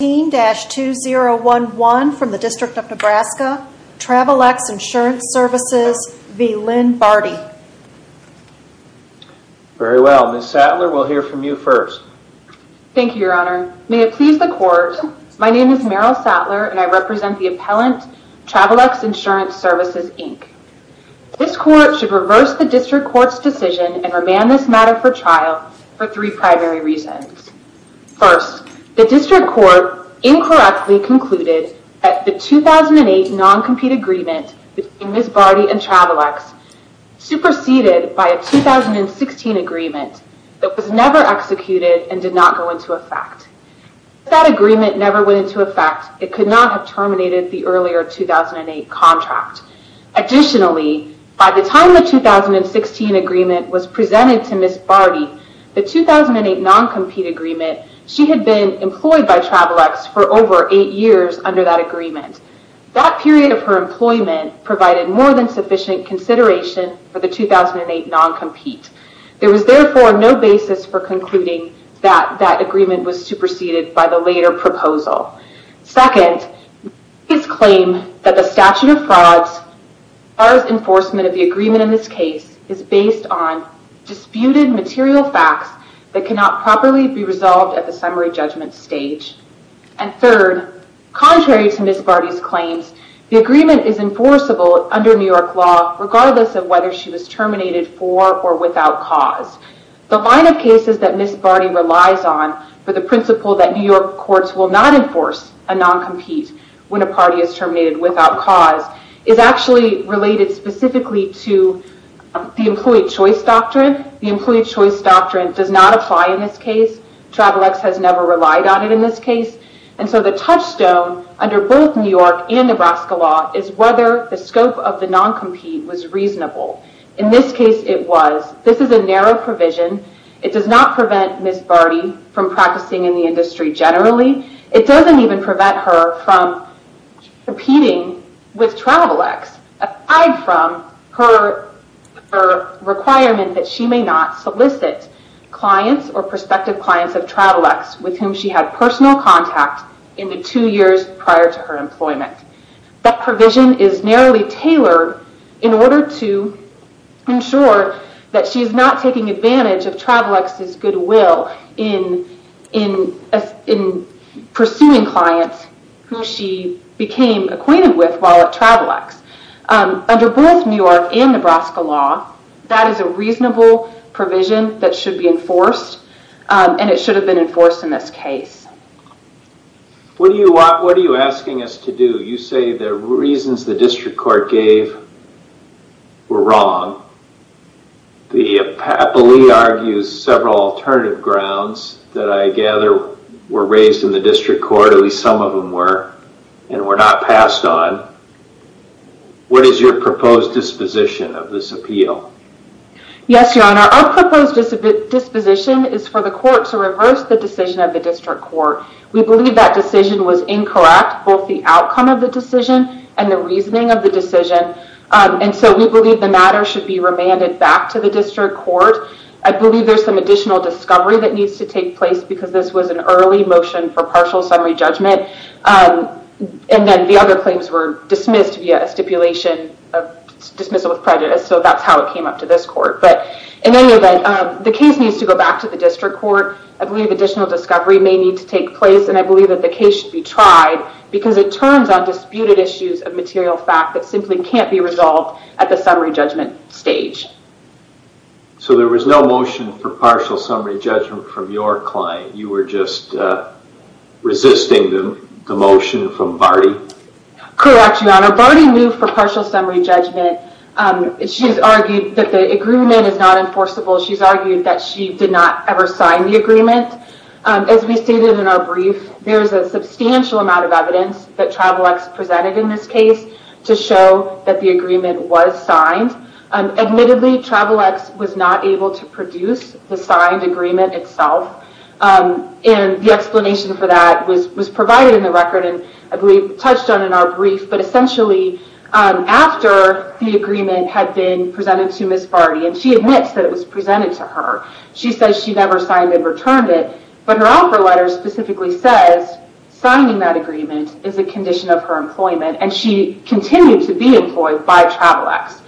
Very well, Ms. Sattler, we'll hear from you first. Thank you, Your Honor. May it please the Court, my name is Meryl Sattler and I represent the appellant Travelex Insurance Services, Inc. This Court should reverse the District Court's decision and remand this matter for trial for three primary reasons. First, the District Court incorrectly concluded that the 2008 non-compete agreement between Ms. Barty and Travelex superseded by a 2016 agreement that was never executed and did not go into effect. If that agreement never went into effect, it could not have terminated the earlier 2008 contract. Additionally, by the time the 2016 agreement was presented to Ms. Barty, the 2008 non-compete agreement, she had been employed by Travelex for over eight years under that agreement. That period of her employment provided more than sufficient consideration for the 2008 non-compete. There was therefore no basis for concluding that that agreement was superseded by the later proposal. Second, Ms. Barty's claim that the statute of frauds, as far as enforcement of the agreement in this case, is based on disputed material facts that cannot properly be resolved at the summary judgment stage. Third, contrary to Ms. Barty's claims, the agreement is enforceable under New York law regardless of whether she was terminated for or without cause. The line of cases that Ms. Barty relies on for the principle that New York courts will not enforce a non-compete when a party is terminated without cause is actually related specifically to the employee choice doctrine. The employee choice doctrine does not apply in this case. Travelex has never relied on it in this case. The touchstone under both New York and Nebraska law is whether the scope of the non-compete was reasonable. In this case, it was. This is a narrow provision. It does not prevent Ms. Barty from practicing in the industry generally. It doesn't even prevent her from competing with Travelex. Aside from her requirement that she may not solicit clients or prospective clients of Travelex with whom she had personal contact in the two years prior to her employment. That provision is narrowly tailored in order to ensure that she's not taking advantage of Travelex's goodwill in pursuing clients who she became acquainted with while at Travelex. Under both New York and Nebraska law, that is a reasonable provision that should be enforced and it should have been enforced in this case. What are you asking us to do? You say the reasons the district court gave were wrong. The appellee argues several alternative grounds that I gather were raised in the district court. At least some of them were and were not passed on. What is your proposed disposition of this appeal? Yes, your honor. Our proposed disposition is for the court to reverse the decision of the district court. We believe that decision was incorrect. Both the outcome of the decision and the reasoning of the decision. We believe the matter should be remanded back to the district court. I believe there's some additional discovery that needs to take place because this was an early motion for partial summary judgment. The other claims were dismissed via a stipulation of dismissal with prejudice. That's how it came up to this court. In any event, the case needs to go back to the district court. I believe additional discovery may need to take place and I believe that the case should be tried because it turns on disputed issues of material fact that simply can't be resolved at the summary judgment stage. So there was no motion for partial summary judgment from your client? You were just resisting the motion from Barty? Correct, your honor. Barty moved for partial summary judgment. She's argued that the agreement is not enforceable. She's argued that she did not ever sign the agreement. As we stated in our brief, there's a substantial amount of evidence that Travelex presented in this case to show that the agreement was signed. Admittedly, Travelex was not able to produce the signed agreement itself. The explanation for that was provided in the record and I believe touched on in our brief. But essentially, after the agreement had been presented to Ms. Barty and she admits that it was presented to her, she says she never signed and returned it. But her offer letter specifically says signing that agreement is a condition of her employment and she continued to be employed by Travelex.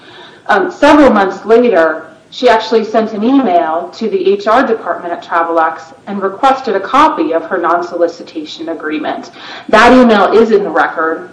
Several months later, she actually sent an email to the HR department at Travelex and requested a copy of her non-solicitation agreement. That email is in the record.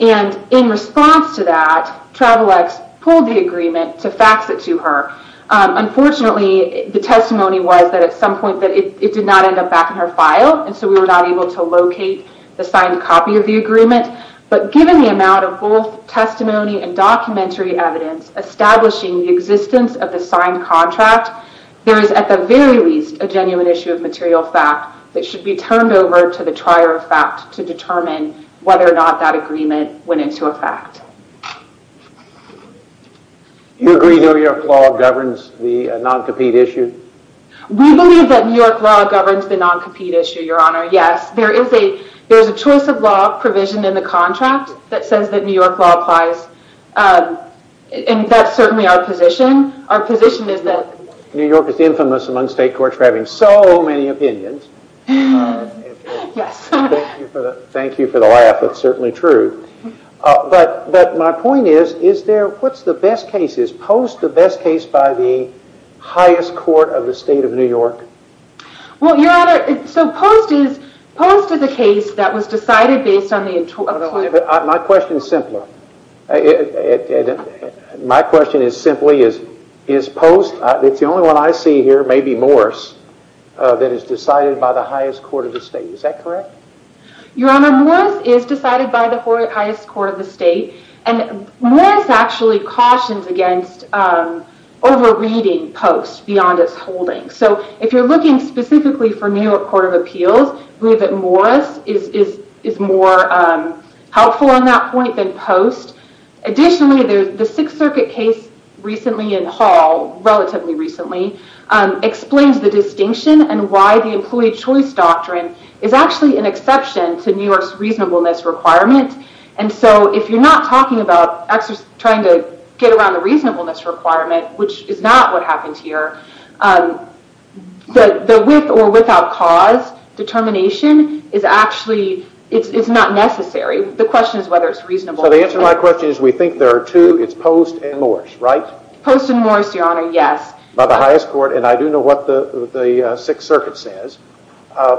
In response to that, Travelex pulled the agreement to fax it to her. Unfortunately, the testimony was that at some point it did not end up back in her file and so we were not able to locate the signed copy of the agreement. But given the amount of both testimony and documentary evidence establishing the existence of the signed contract, there is at the very least a genuine issue of material fact that should be turned over to the trier of fact to determine whether or not that agreement went into effect. Do you agree that New York law governs the non-compete issue? We believe that New York law governs the non-compete issue, Your Honor. Yes, there is a choice of law provision in the contract that says that New York law applies. And that's certainly our position. Our position is that New York is infamous among state courts for having so many opinions. Thank you for the laugh, that's certainly true. But my point is, what's the best case? Is Post the best case by the highest court of the state of New York? Well, Your Honor, so Post is a case that was decided based on the... My question is simpler. My question is simply, is Post, it's the only one I see here, maybe Morris, that is decided by the highest court of the state. Is that correct? Your Honor, Morris is decided by the highest court of the state and Morris actually cautions against over-reading Post beyond its holding. So if you're looking specifically for New York Court of Appeals, we believe that Morris is more helpful on that point than Post. Additionally, the Sixth Circuit case recently in Hall, relatively recently, explains the distinction and why the employee choice doctrine is actually an exception to New York's reasonableness requirement. And so if you're not talking about trying to get around the reasonableness requirement, which is not what happens here, the with or without cause determination is actually, it's not necessary. The question is whether it's reasonable. So the answer to my question is we think there are two, it's Post and Morris, right? Post and Morris, Your Honor, yes. By the highest court, and I do know what the Sixth Circuit says. I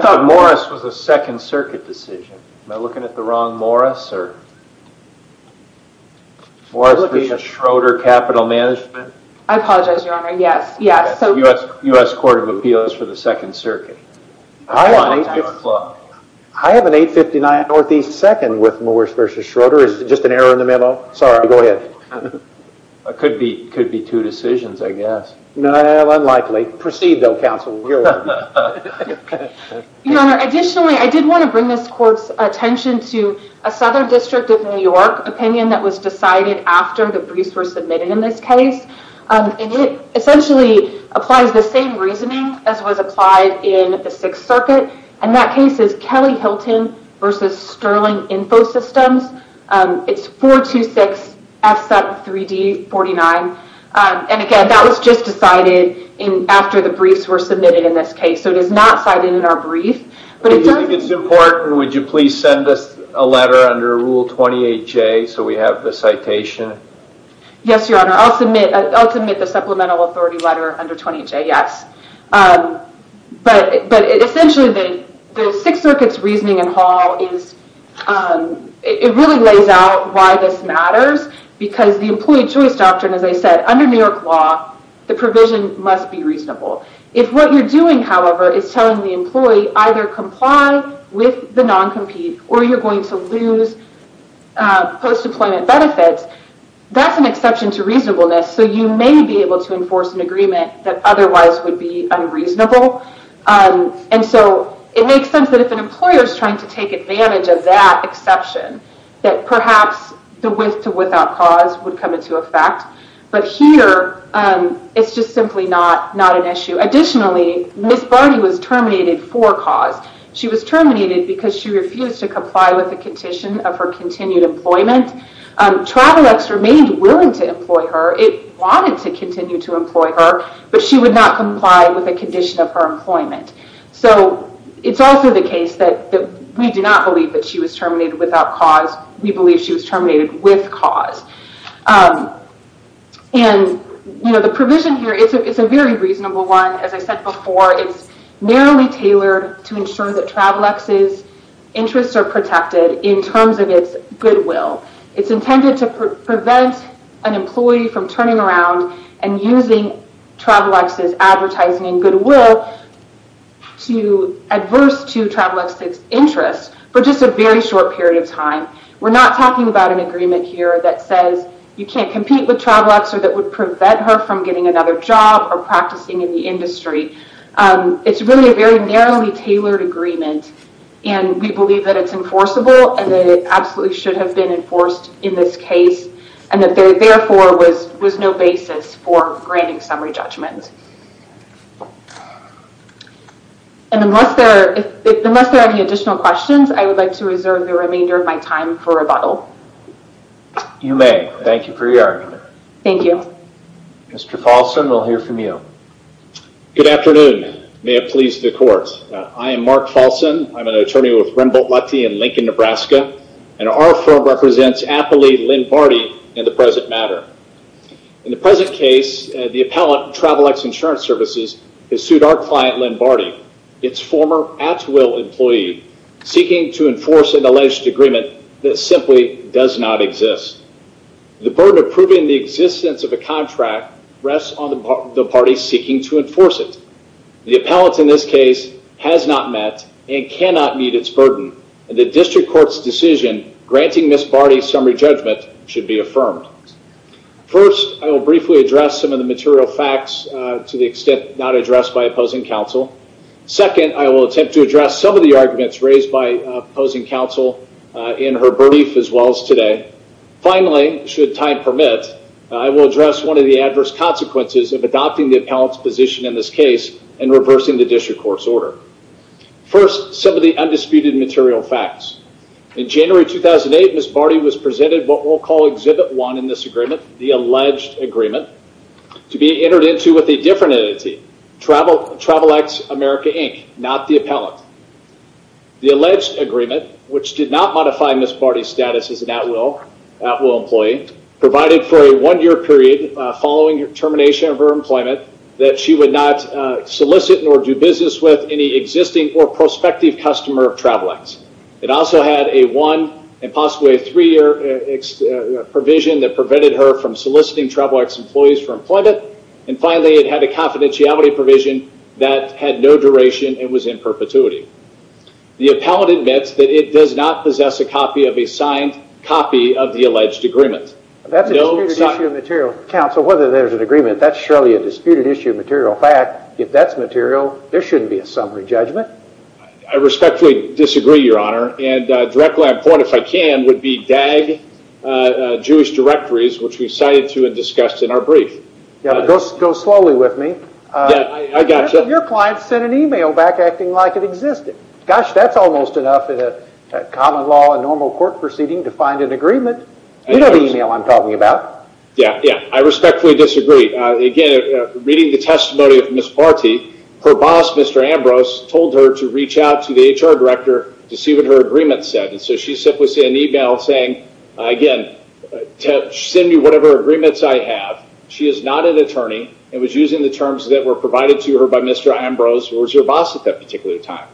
thought Morris was a Second Circuit decision. Am I looking at the wrong Morris? Morris v. Schroeder Capital Management? I apologize, Your Honor, yes. U.S. Court of Appeals for the Second Circuit. I have an 859 Northeast 2nd with Morris v. Schroeder. Is it just an error in the memo? Sorry, go ahead. It could be two decisions, I guess. No, unlikely. Proceed, though, counsel. Your Honor, additionally, I did want to bring this court's attention to a Southern District of New York opinion that was decided after the briefs were submitted in this case. And it essentially applies the same reasoning as was applied in the Sixth Circuit. And that case is Kelly-Hilton v. Sterling Infosystems. It's 426F73D49. And again, that was just decided after the briefs were submitted in this case. So it is not cited in our brief. Do you think it's important, or would you please send us a letter under Rule 28J so we have the citation? Yes, Your Honor, I'll submit the supplemental authority letter under 28J, yes. But essentially, the Sixth Circuit's reasoning in Hall is... They said, under New York law, the provision must be reasonable. If what you're doing, however, is telling the employee either comply with the non-compete or you're going to lose post-deployment benefits, that's an exception to reasonableness, so you may be able to enforce an agreement that otherwise would be unreasonable. And so it makes sense that if an employer is trying to take advantage of that exception, that perhaps the with-to-without clause would come into effect. But here, it's just simply not an issue. Additionally, Ms. Barty was terminated for cause. She was terminated because she refused to comply with the condition of her continued employment. Travelex remained willing to employ her. It wanted to continue to employ her, but she would not comply with the condition of her employment. So it's also the case that we do not believe that she was terminated without cause. We believe she was terminated with cause. And, you know, the provision here, it's a very reasonable one. As I said before, it's narrowly tailored to ensure that Travelex's interests are protected in terms of its goodwill. It's intended to prevent an employee from turning around and using Travelex's advertising and goodwill to adverse to Travelex's interests for just a very short period of time. We're not talking about an agreement here that says you can't compete with Travelex or that would prevent her from getting another job or practicing in the industry. It's really a very narrowly tailored agreement, and we believe that it's enforceable and that it absolutely should have been enforced in this case and that there, therefore, was no basis for granting summary judgment. And unless there are any additional questions, I would like to reserve the remainder of my time for rebuttal. You may. Thank you for your argument. Thank you. Mr. Falson, we'll hear from you. Good afternoon. May it please the Court. I am Mark Falson. I'm an attorney with Remboldt-Lutte in Lincoln, Nebraska, and our firm represents aptly Lynn Barty in the present matter. In the present case, the appellant, Travelex Insurance Services, has sued our client, Lynn Barty, its former at-will employee, seeking to enforce an alleged agreement that simply does not exist. The burden of proving the existence of a contract rests on the party seeking to enforce it. The appellant in this case has not met and cannot meet its burden, and the district court's decision granting Ms. Barty summary judgment should be affirmed. First, I will briefly address some of the material facts to the extent not addressed by opposing counsel. Second, I will attempt to address some of the arguments raised by opposing counsel in her brief as well as today. Finally, should time permit, I will address one of the adverse consequences of adopting the appellant's position in this case and reversing the district court's order. First, some of the undisputed material facts. In January 2008, Ms. Barty was presented what we'll call Exhibit 1 in this agreement, the alleged agreement, to be entered into with a different entity, Travelex America, Inc., not the appellant. The alleged agreement, which did not modify Ms. Barty's status as an at-will employee, provided for a one-year period following termination of her employment that she would not solicit nor do business with any existing or prospective customer of Travelex. It also had a one and possibly a three-year provision that prevented her from soliciting Travelex employees for employment. And finally, it had a confidentiality provision that had no duration and was in perpetuity. The appellant admits that it does not possess a copy of a signed copy of the alleged agreement. That's a disputed issue of material. Counsel, whether there's an agreement, that's surely a disputed issue of material fact. If that's material, there shouldn't be a summary judgment. I respectfully disagree, Your Honor. And a direct line of point, if I can, would be DAG Jewish directories, which we cited to and discussed in our brief. Yeah, but go slowly with me. Yeah, I gotcha. Your client sent an e-mail back acting like it existed. Gosh, that's almost enough in a common law and normal court proceeding to find an agreement. You know the e-mail I'm talking about. Yeah, yeah, I respectfully disagree. Again, reading the testimony of Ms. Partee, her boss, Mr. Ambrose, told her to reach out to the HR director to see what her agreement said. And so she simply sent an e-mail saying, again, send me whatever agreements I have. She is not an attorney and was using the terms that were provided to her by Mr. Ambrose, who was her boss at that particular time.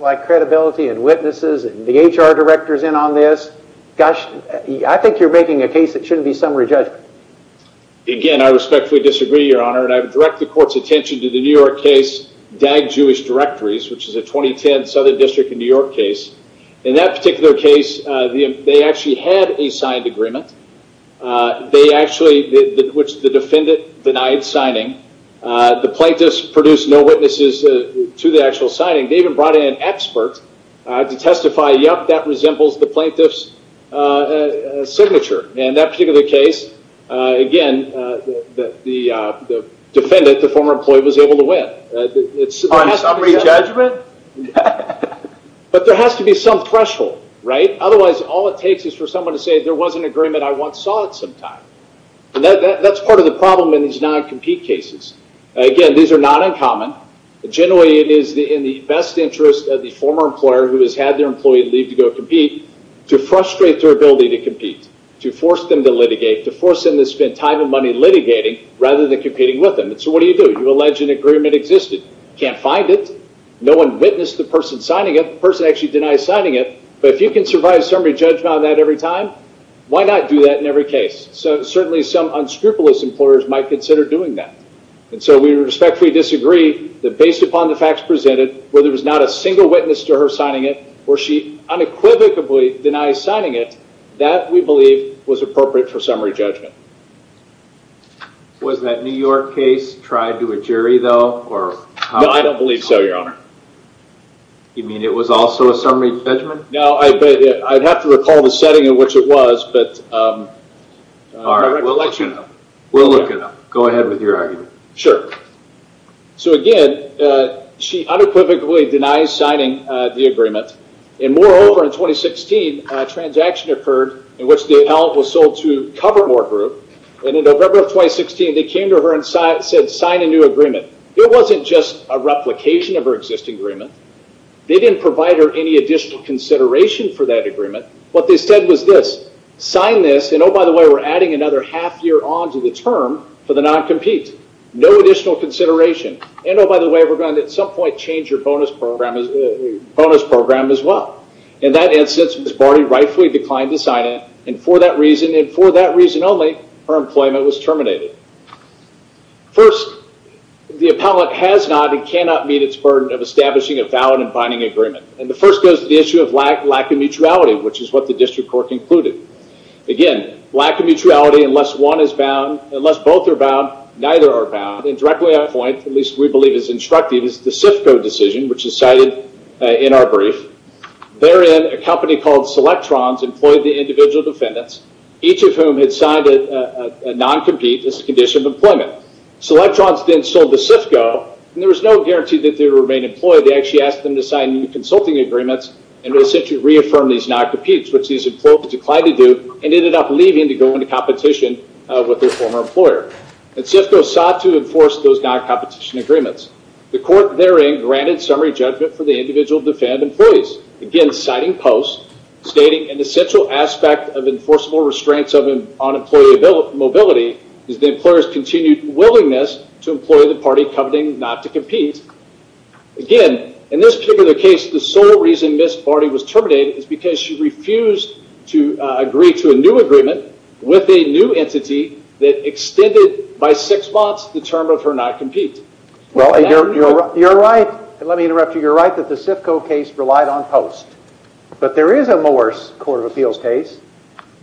Like credibility and witnesses and the HR director's in on this. Gosh, I think you're making a case that shouldn't be summary judgment. Again, I respectfully disagree, Your Honor. And I would direct the court's attention to the New York case, DAG Jewish directories, which is a 2010 Southern District of New York case. In that particular case, they actually had a signed agreement. They actually, which the defendant denied signing. The plaintiffs produced no witnesses to the actual signing. They even brought in an expert to testify, yup, that resembles the plaintiff's signature. In that particular case, again, the defendant, the former employee, was able to win. On summary judgment? But there has to be some threshold, right? Otherwise, all it takes is for someone to say there was an agreement, I once saw it sometime. That's part of the problem in these non-compete cases. Again, these are not uncommon. Generally, it is in the best interest of the former employer who has had their employee leave to go compete to frustrate their ability to compete, to force them to litigate, to force them to spend time and money litigating rather than competing with them. So what do you do? You allege an agreement existed. Can't find it. No one witnessed the person signing it. The person actually denies signing it. But if you can survive summary judgment on that every time, why not do that in every case? So certainly some unscrupulous employers might consider doing that. And so we respectfully disagree that based upon the facts presented, whether it was not a single witness to her signing it or she unequivocally denies signing it, that, we believe, was appropriate for summary judgment. Was that New York case tried to a jury, though? No, I don't believe so, Your Honor. You mean it was also a summary judgment? No, I'd have to recall the setting in which it was. All right, we'll let you know. We'll look it up. Go ahead with your argument. Sure. So, again, she unequivocally denies signing the agreement. And moreover, in 2016, a transaction occurred in which the appellant was sold to Covermore Group. And in November of 2016, they came to her and said, sign a new agreement. It wasn't just a replication of her existing agreement. They didn't provide her any additional consideration for that agreement. What they said was this, sign this. And, oh, by the way, we're adding another half year on to the term for the non-compete. No additional consideration. And, oh, by the way, we're going to at some point change your bonus program as well. In that instance, Ms. Barty rightfully declined to sign it. First, the appellant has not and cannot meet its burden of establishing a valid and binding agreement. And the first goes to the issue of lack of mutuality, which is what the district court concluded. Again, lack of mutuality, unless one is bound, unless both are bound, neither are bound. And directly at that point, at least we believe is instructive, is the CIFCO decision, which is cited in our brief. Therein, a company called Selectrons employed the individual defendants, each of whom had signed a non-compete as a condition of employment. Selectrons then sold to CIFCO, and there was no guarantee that they would remain employed. They actually asked them to sign new consulting agreements and to essentially reaffirm these non-competes, which these employees declined to do and ended up leaving to go into competition with their former employer. And CIFCO sought to enforce those non-competition agreements. The court therein granted summary judgment for the individual defendant employees, again, citing post, stating an essential aspect of enforceable restraints on employee mobility is the employer's continued willingness to employ the party covenant not to compete. Again, in this particular case, the sole reason Ms. Barty was terminated is because she refused to agree to a new agreement with a new entity that extended by six months the term of her non-compete. You're right. Let me interrupt you. You're right that the CIFCO case relied on post. But there is a Morris Court of Appeals case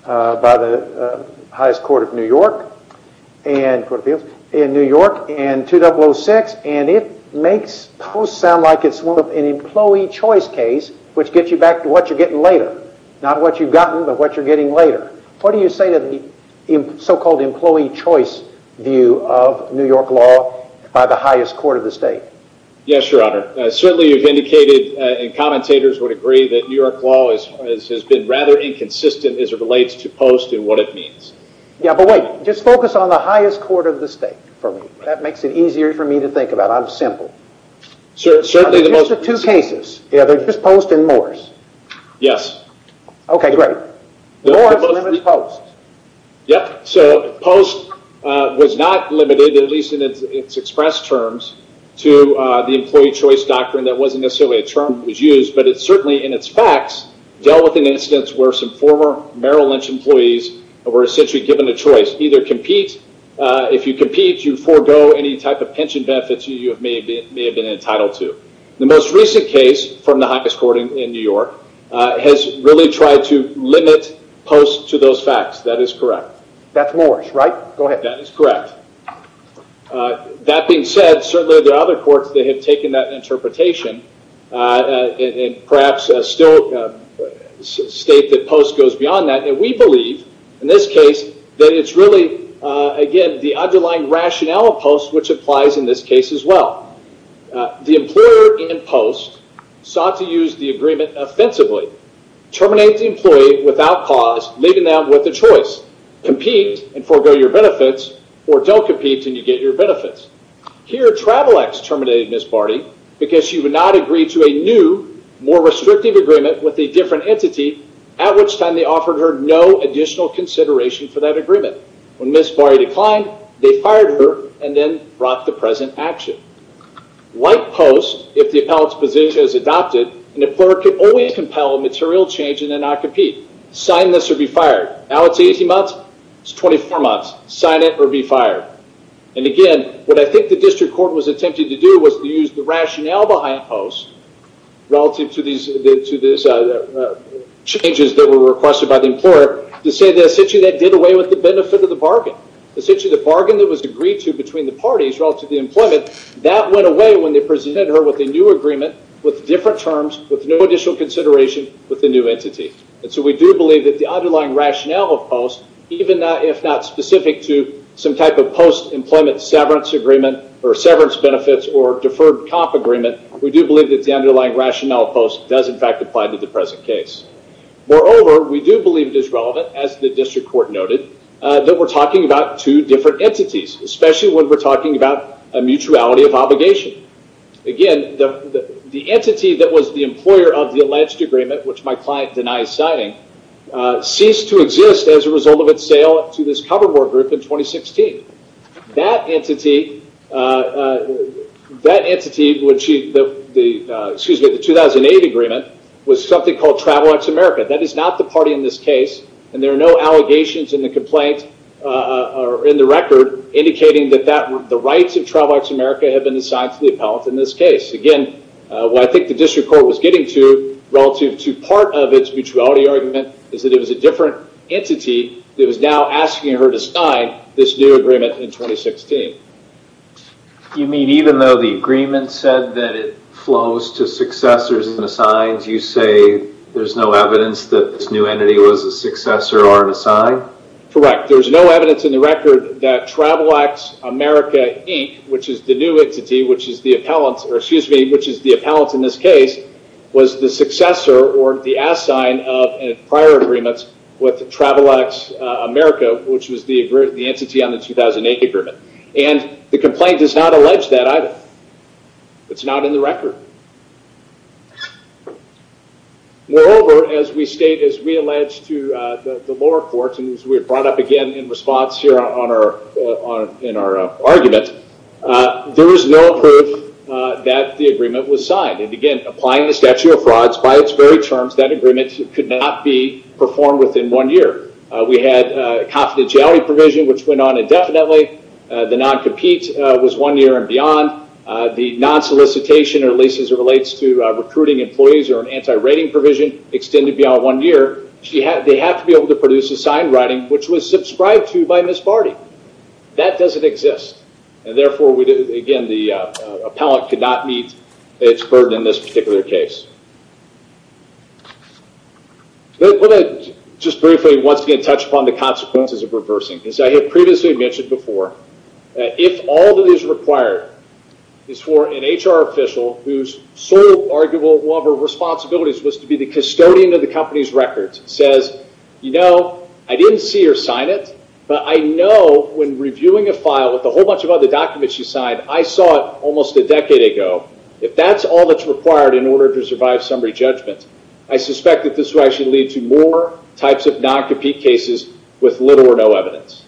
by the highest court of New York in 2006, and it makes post sound like it's an employee choice case, which gets you back to what you're getting later. Not what you've gotten, but what you're getting later. What do you say to the so-called employee choice view of New York law by the highest court of the state? Yes, Your Honor. Certainly you've indicated, and commentators would agree, that New York law has been rather inconsistent as it relates to post and what it means. Yeah, but wait. Just focus on the highest court of the state for me. That makes it easier for me to think about. I'm simple. Certainly the most— Just the two cases. Yeah, just post and Morris. Yes. Okay, great. Morris limits post. Yeah, so post was not limited, at least in its express terms, to the employee choice doctrine. That wasn't necessarily a term that was used, but it certainly, in its facts, dealt with an instance where some former Merrill Lynch employees were essentially given a choice. Either compete. If you compete, you forego any type of pension benefits you may have been entitled to. The most recent case from the highest court in New York has really tried to limit post to those facts. That is correct. That's Morris, right? Go ahead. That is correct. That being said, certainly there are other courts that have taken that interpretation and perhaps still state that post goes beyond that. And we believe, in this case, that it's really, again, the underlying rationale of post, which applies in this case as well. The employer in post sought to use the agreement offensively. Terminate the employee without cause, leaving them with a choice. Compete and forego your benefits, or don't compete and you get your benefits. Here, Travelex terminated Ms. Barty because she would not agree to a new, more restrictive agreement with a different entity, at which time they offered her no additional consideration for that agreement. When Ms. Barty declined, they fired her and then brought the present action. Like post, if the appellate's position is adopted, an employer can only compel a material change and then not compete. Sign this or be fired. Now it's 18 months, it's 24 months. Sign it or be fired. And again, what I think the district court was attempting to do was to use the rationale behind post, relative to these changes that were requested by the employer, to say that essentially that did away with the benefit of the bargain. Essentially, the bargain that was agreed to between the parties relative to the employment, that went away when they presented her with a new agreement, with different terms, with no additional consideration with the new entity. And so we do believe that the underlying rationale of post, even if not specific to some type of post-employment severance agreement, or severance benefits, or deferred comp agreement, we do believe that the underlying rationale of post does in fact apply to the present case. Moreover, we do believe it is relevant, as the district court noted, that we're talking about two different entities, especially when we're talking about a mutuality of obligation. Again, the entity that was the employer of the alleged agreement, which my client denies signing, ceased to exist as a result of its sale to this cover board group in 2016. That entity, the 2008 agreement, was something called Travel X America. That is not the party in this case, and there are no allegations in the complaint, or in the record, indicating that the rights of Travel X America have been assigned to the appellate in this case. Again, what I think the district court was getting to, relative to part of its mutuality argument, is that it was a different entity that was now asking her to sign this new agreement in 2016. You mean even though the agreement said that it flows to successors and assigns, you say there's no evidence that this new entity was a successor or an assigned? Correct. There's no evidence in the record that Travel X America Inc., which is the new entity, which is the appellant in this case, was the successor or the assigned of prior agreements with Travel X America, which was the entity on the 2008 agreement. The complaint does not allege that either. It's not in the record. Moreover, as we state, as we allege to the lower courts, and as we brought up again in response here in our argument, there is no proof that the agreement was signed. Again, applying the statute of frauds, by its very terms, that agreement could not be performed within one year. We had a confidentiality provision, which went on indefinitely. The non-compete was one year and beyond. The non-solicitation, or at least as it relates to recruiting employees or an anti-rating provision, extended beyond one year. They have to be able to produce a signed writing, which was subscribed to by Ms. Barty. That doesn't exist. Therefore, again, the appellant could not meet its burden in this particular case. Just briefly, once again, touch upon the consequences of reversing. As I had previously mentioned before, if all that is required is for an HR official, whose sole, arguably, one of her responsibilities was to be the custodian of the company's records, says, you know, I didn't see her sign it, but I know when reviewing a file with a whole bunch of other documents she signed, I saw it almost a decade ago. If that's all that's required in order to survive summary judgment, I suspect that this would actually lead to more types of non-compete cases with little or no evidence.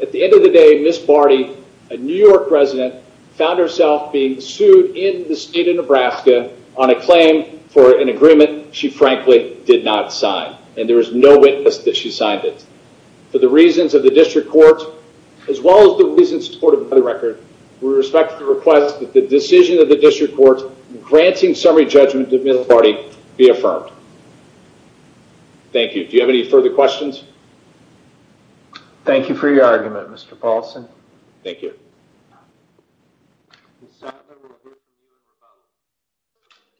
At the end of the day, Ms. Barty, a New York resident, found herself being sued in the state of Nebraska on a claim for an agreement she frankly did not sign. And there was no witness that she signed it. For the reasons of the district court, as well as the reasons supported by the record, we respect the request that the decision of the district court granting summary judgment to Ms. Barty be affirmed. Thank you. Do you have any further questions? Thank you for your argument, Mr. Paulson. Thank you.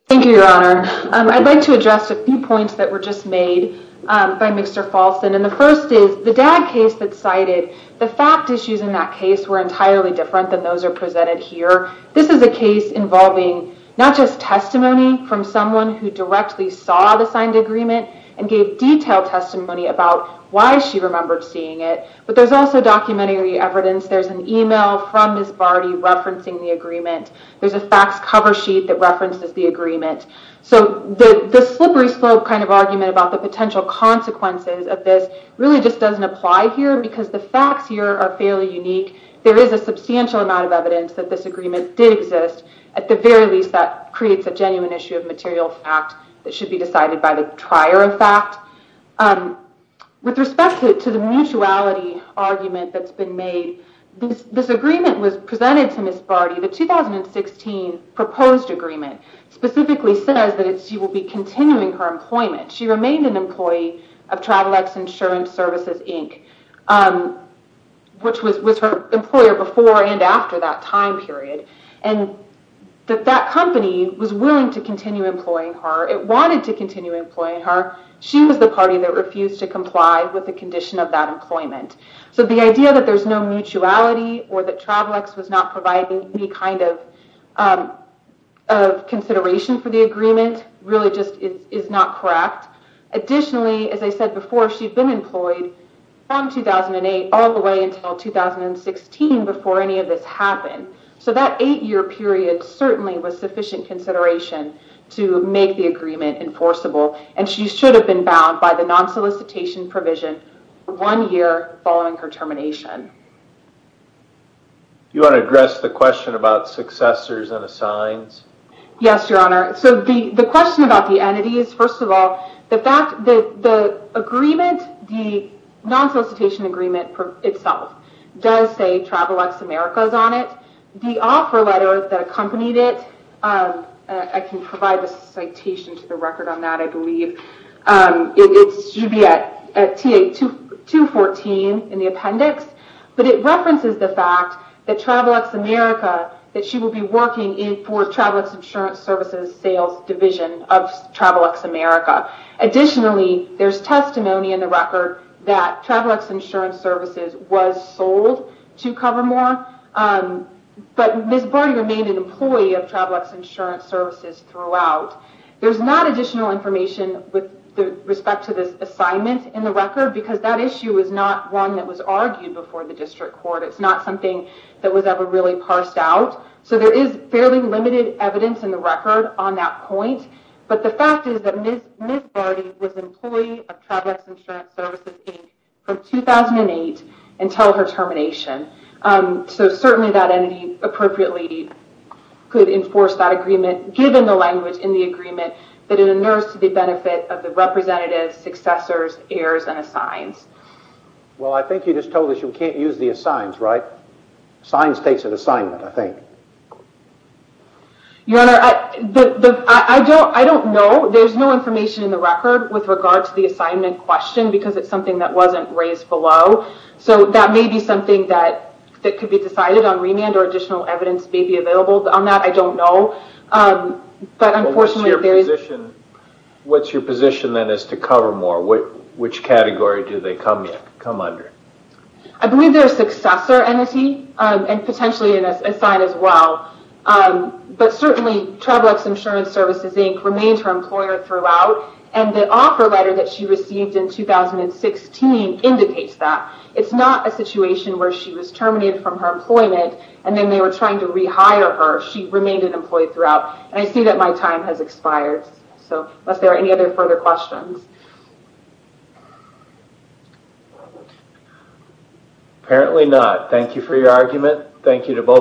Thank you, Your Honor. I'd like to address a few points that were just made by Mr. Paulson. And the first is, the DAG case that's cited, the fact issues in that case were entirely different than those that are presented here. This is a case involving not just testimony from someone who directly saw the signed agreement and gave detailed testimony about why she remembered seeing it, but there's also documentary evidence. There's an email from Ms. Barty referencing the agreement. There's a facts cover sheet that references the agreement. So the slippery slope kind of argument about the potential consequences of this really just doesn't apply here because the facts here are fairly unique. There is a substantial amount of evidence that this agreement did exist. At the very least, that creates a genuine issue of material fact that should be decided by the trier of fact. With respect to the mutuality argument that's been made, this agreement was presented to Ms. Barty, the 2016 proposed agreement specifically says that she will be continuing her employment. She remained an employee of Travelex Insurance Services, Inc., which was her employer before and after that time period, and that that company was willing to continue employing her. It wanted to continue employing her. She was the party that refused to comply with the condition of that employment. So the idea that there's no mutuality or that Travelex was not providing any kind of consideration for the agreement really just is not correct. Additionally, as I said before, she'd been employed from 2008 all the way until 2016 before any of this happened. So that eight-year period certainly was sufficient consideration to make the agreement enforceable, and she should have been bound by the non-solicitation provision one year following her termination. Do you want to address the question about successors and assigns? Yes, Your Honor. So the question about the entity is, first of all, the fact that the agreement, the non-solicitation agreement itself does say Travelex Americas on it. The offer letter that accompanied it, I can provide the citation to the record on that, I believe. It should be at TA-214 in the appendix, but it references the fact that Travelex America, that she will be working for Travelex Insurance Services Sales Division of Travelex America. Additionally, there's testimony in the record that Travelex Insurance Services was sold to Cover-More, but Ms. Barty remained an employee of Travelex Insurance Services throughout. There's not additional information with respect to this assignment in the record because that issue is not one that was argued before the district court. It's not something that was ever really parsed out. So there is fairly limited evidence in the record on that point, but the fact is that Ms. Barty was an employee of Travelex Insurance Services from 2008 until her termination. So certainly that entity appropriately could enforce that agreement, given the language in the agreement that it endures to the benefit of the representatives, successors, heirs, and assigns. Well, I think you just told us you can't use the assigns, right? Assigns takes an assignment, I think. Your Honor, I don't know. There's no information in the record with regard to the assignment question because it's something that wasn't raised below. So that may be something that could be decided on remand or additional evidence may be available on that. I don't know, but unfortunately there is... What's your position then as to Cover-More? Which category do they come under? I believe they're a successor entity, and potentially an assign as well. But certainly Travelex Insurance Services Inc. remained her employer throughout, and the offer letter that she received in 2016 indicates that. It's not a situation where she was terminated from her employment, and then they were trying to rehire her. She remained an employee throughout, and I see that my time has expired. So unless there are any other further questions. Apparently not. Thank you for your argument. Thank you to both of you.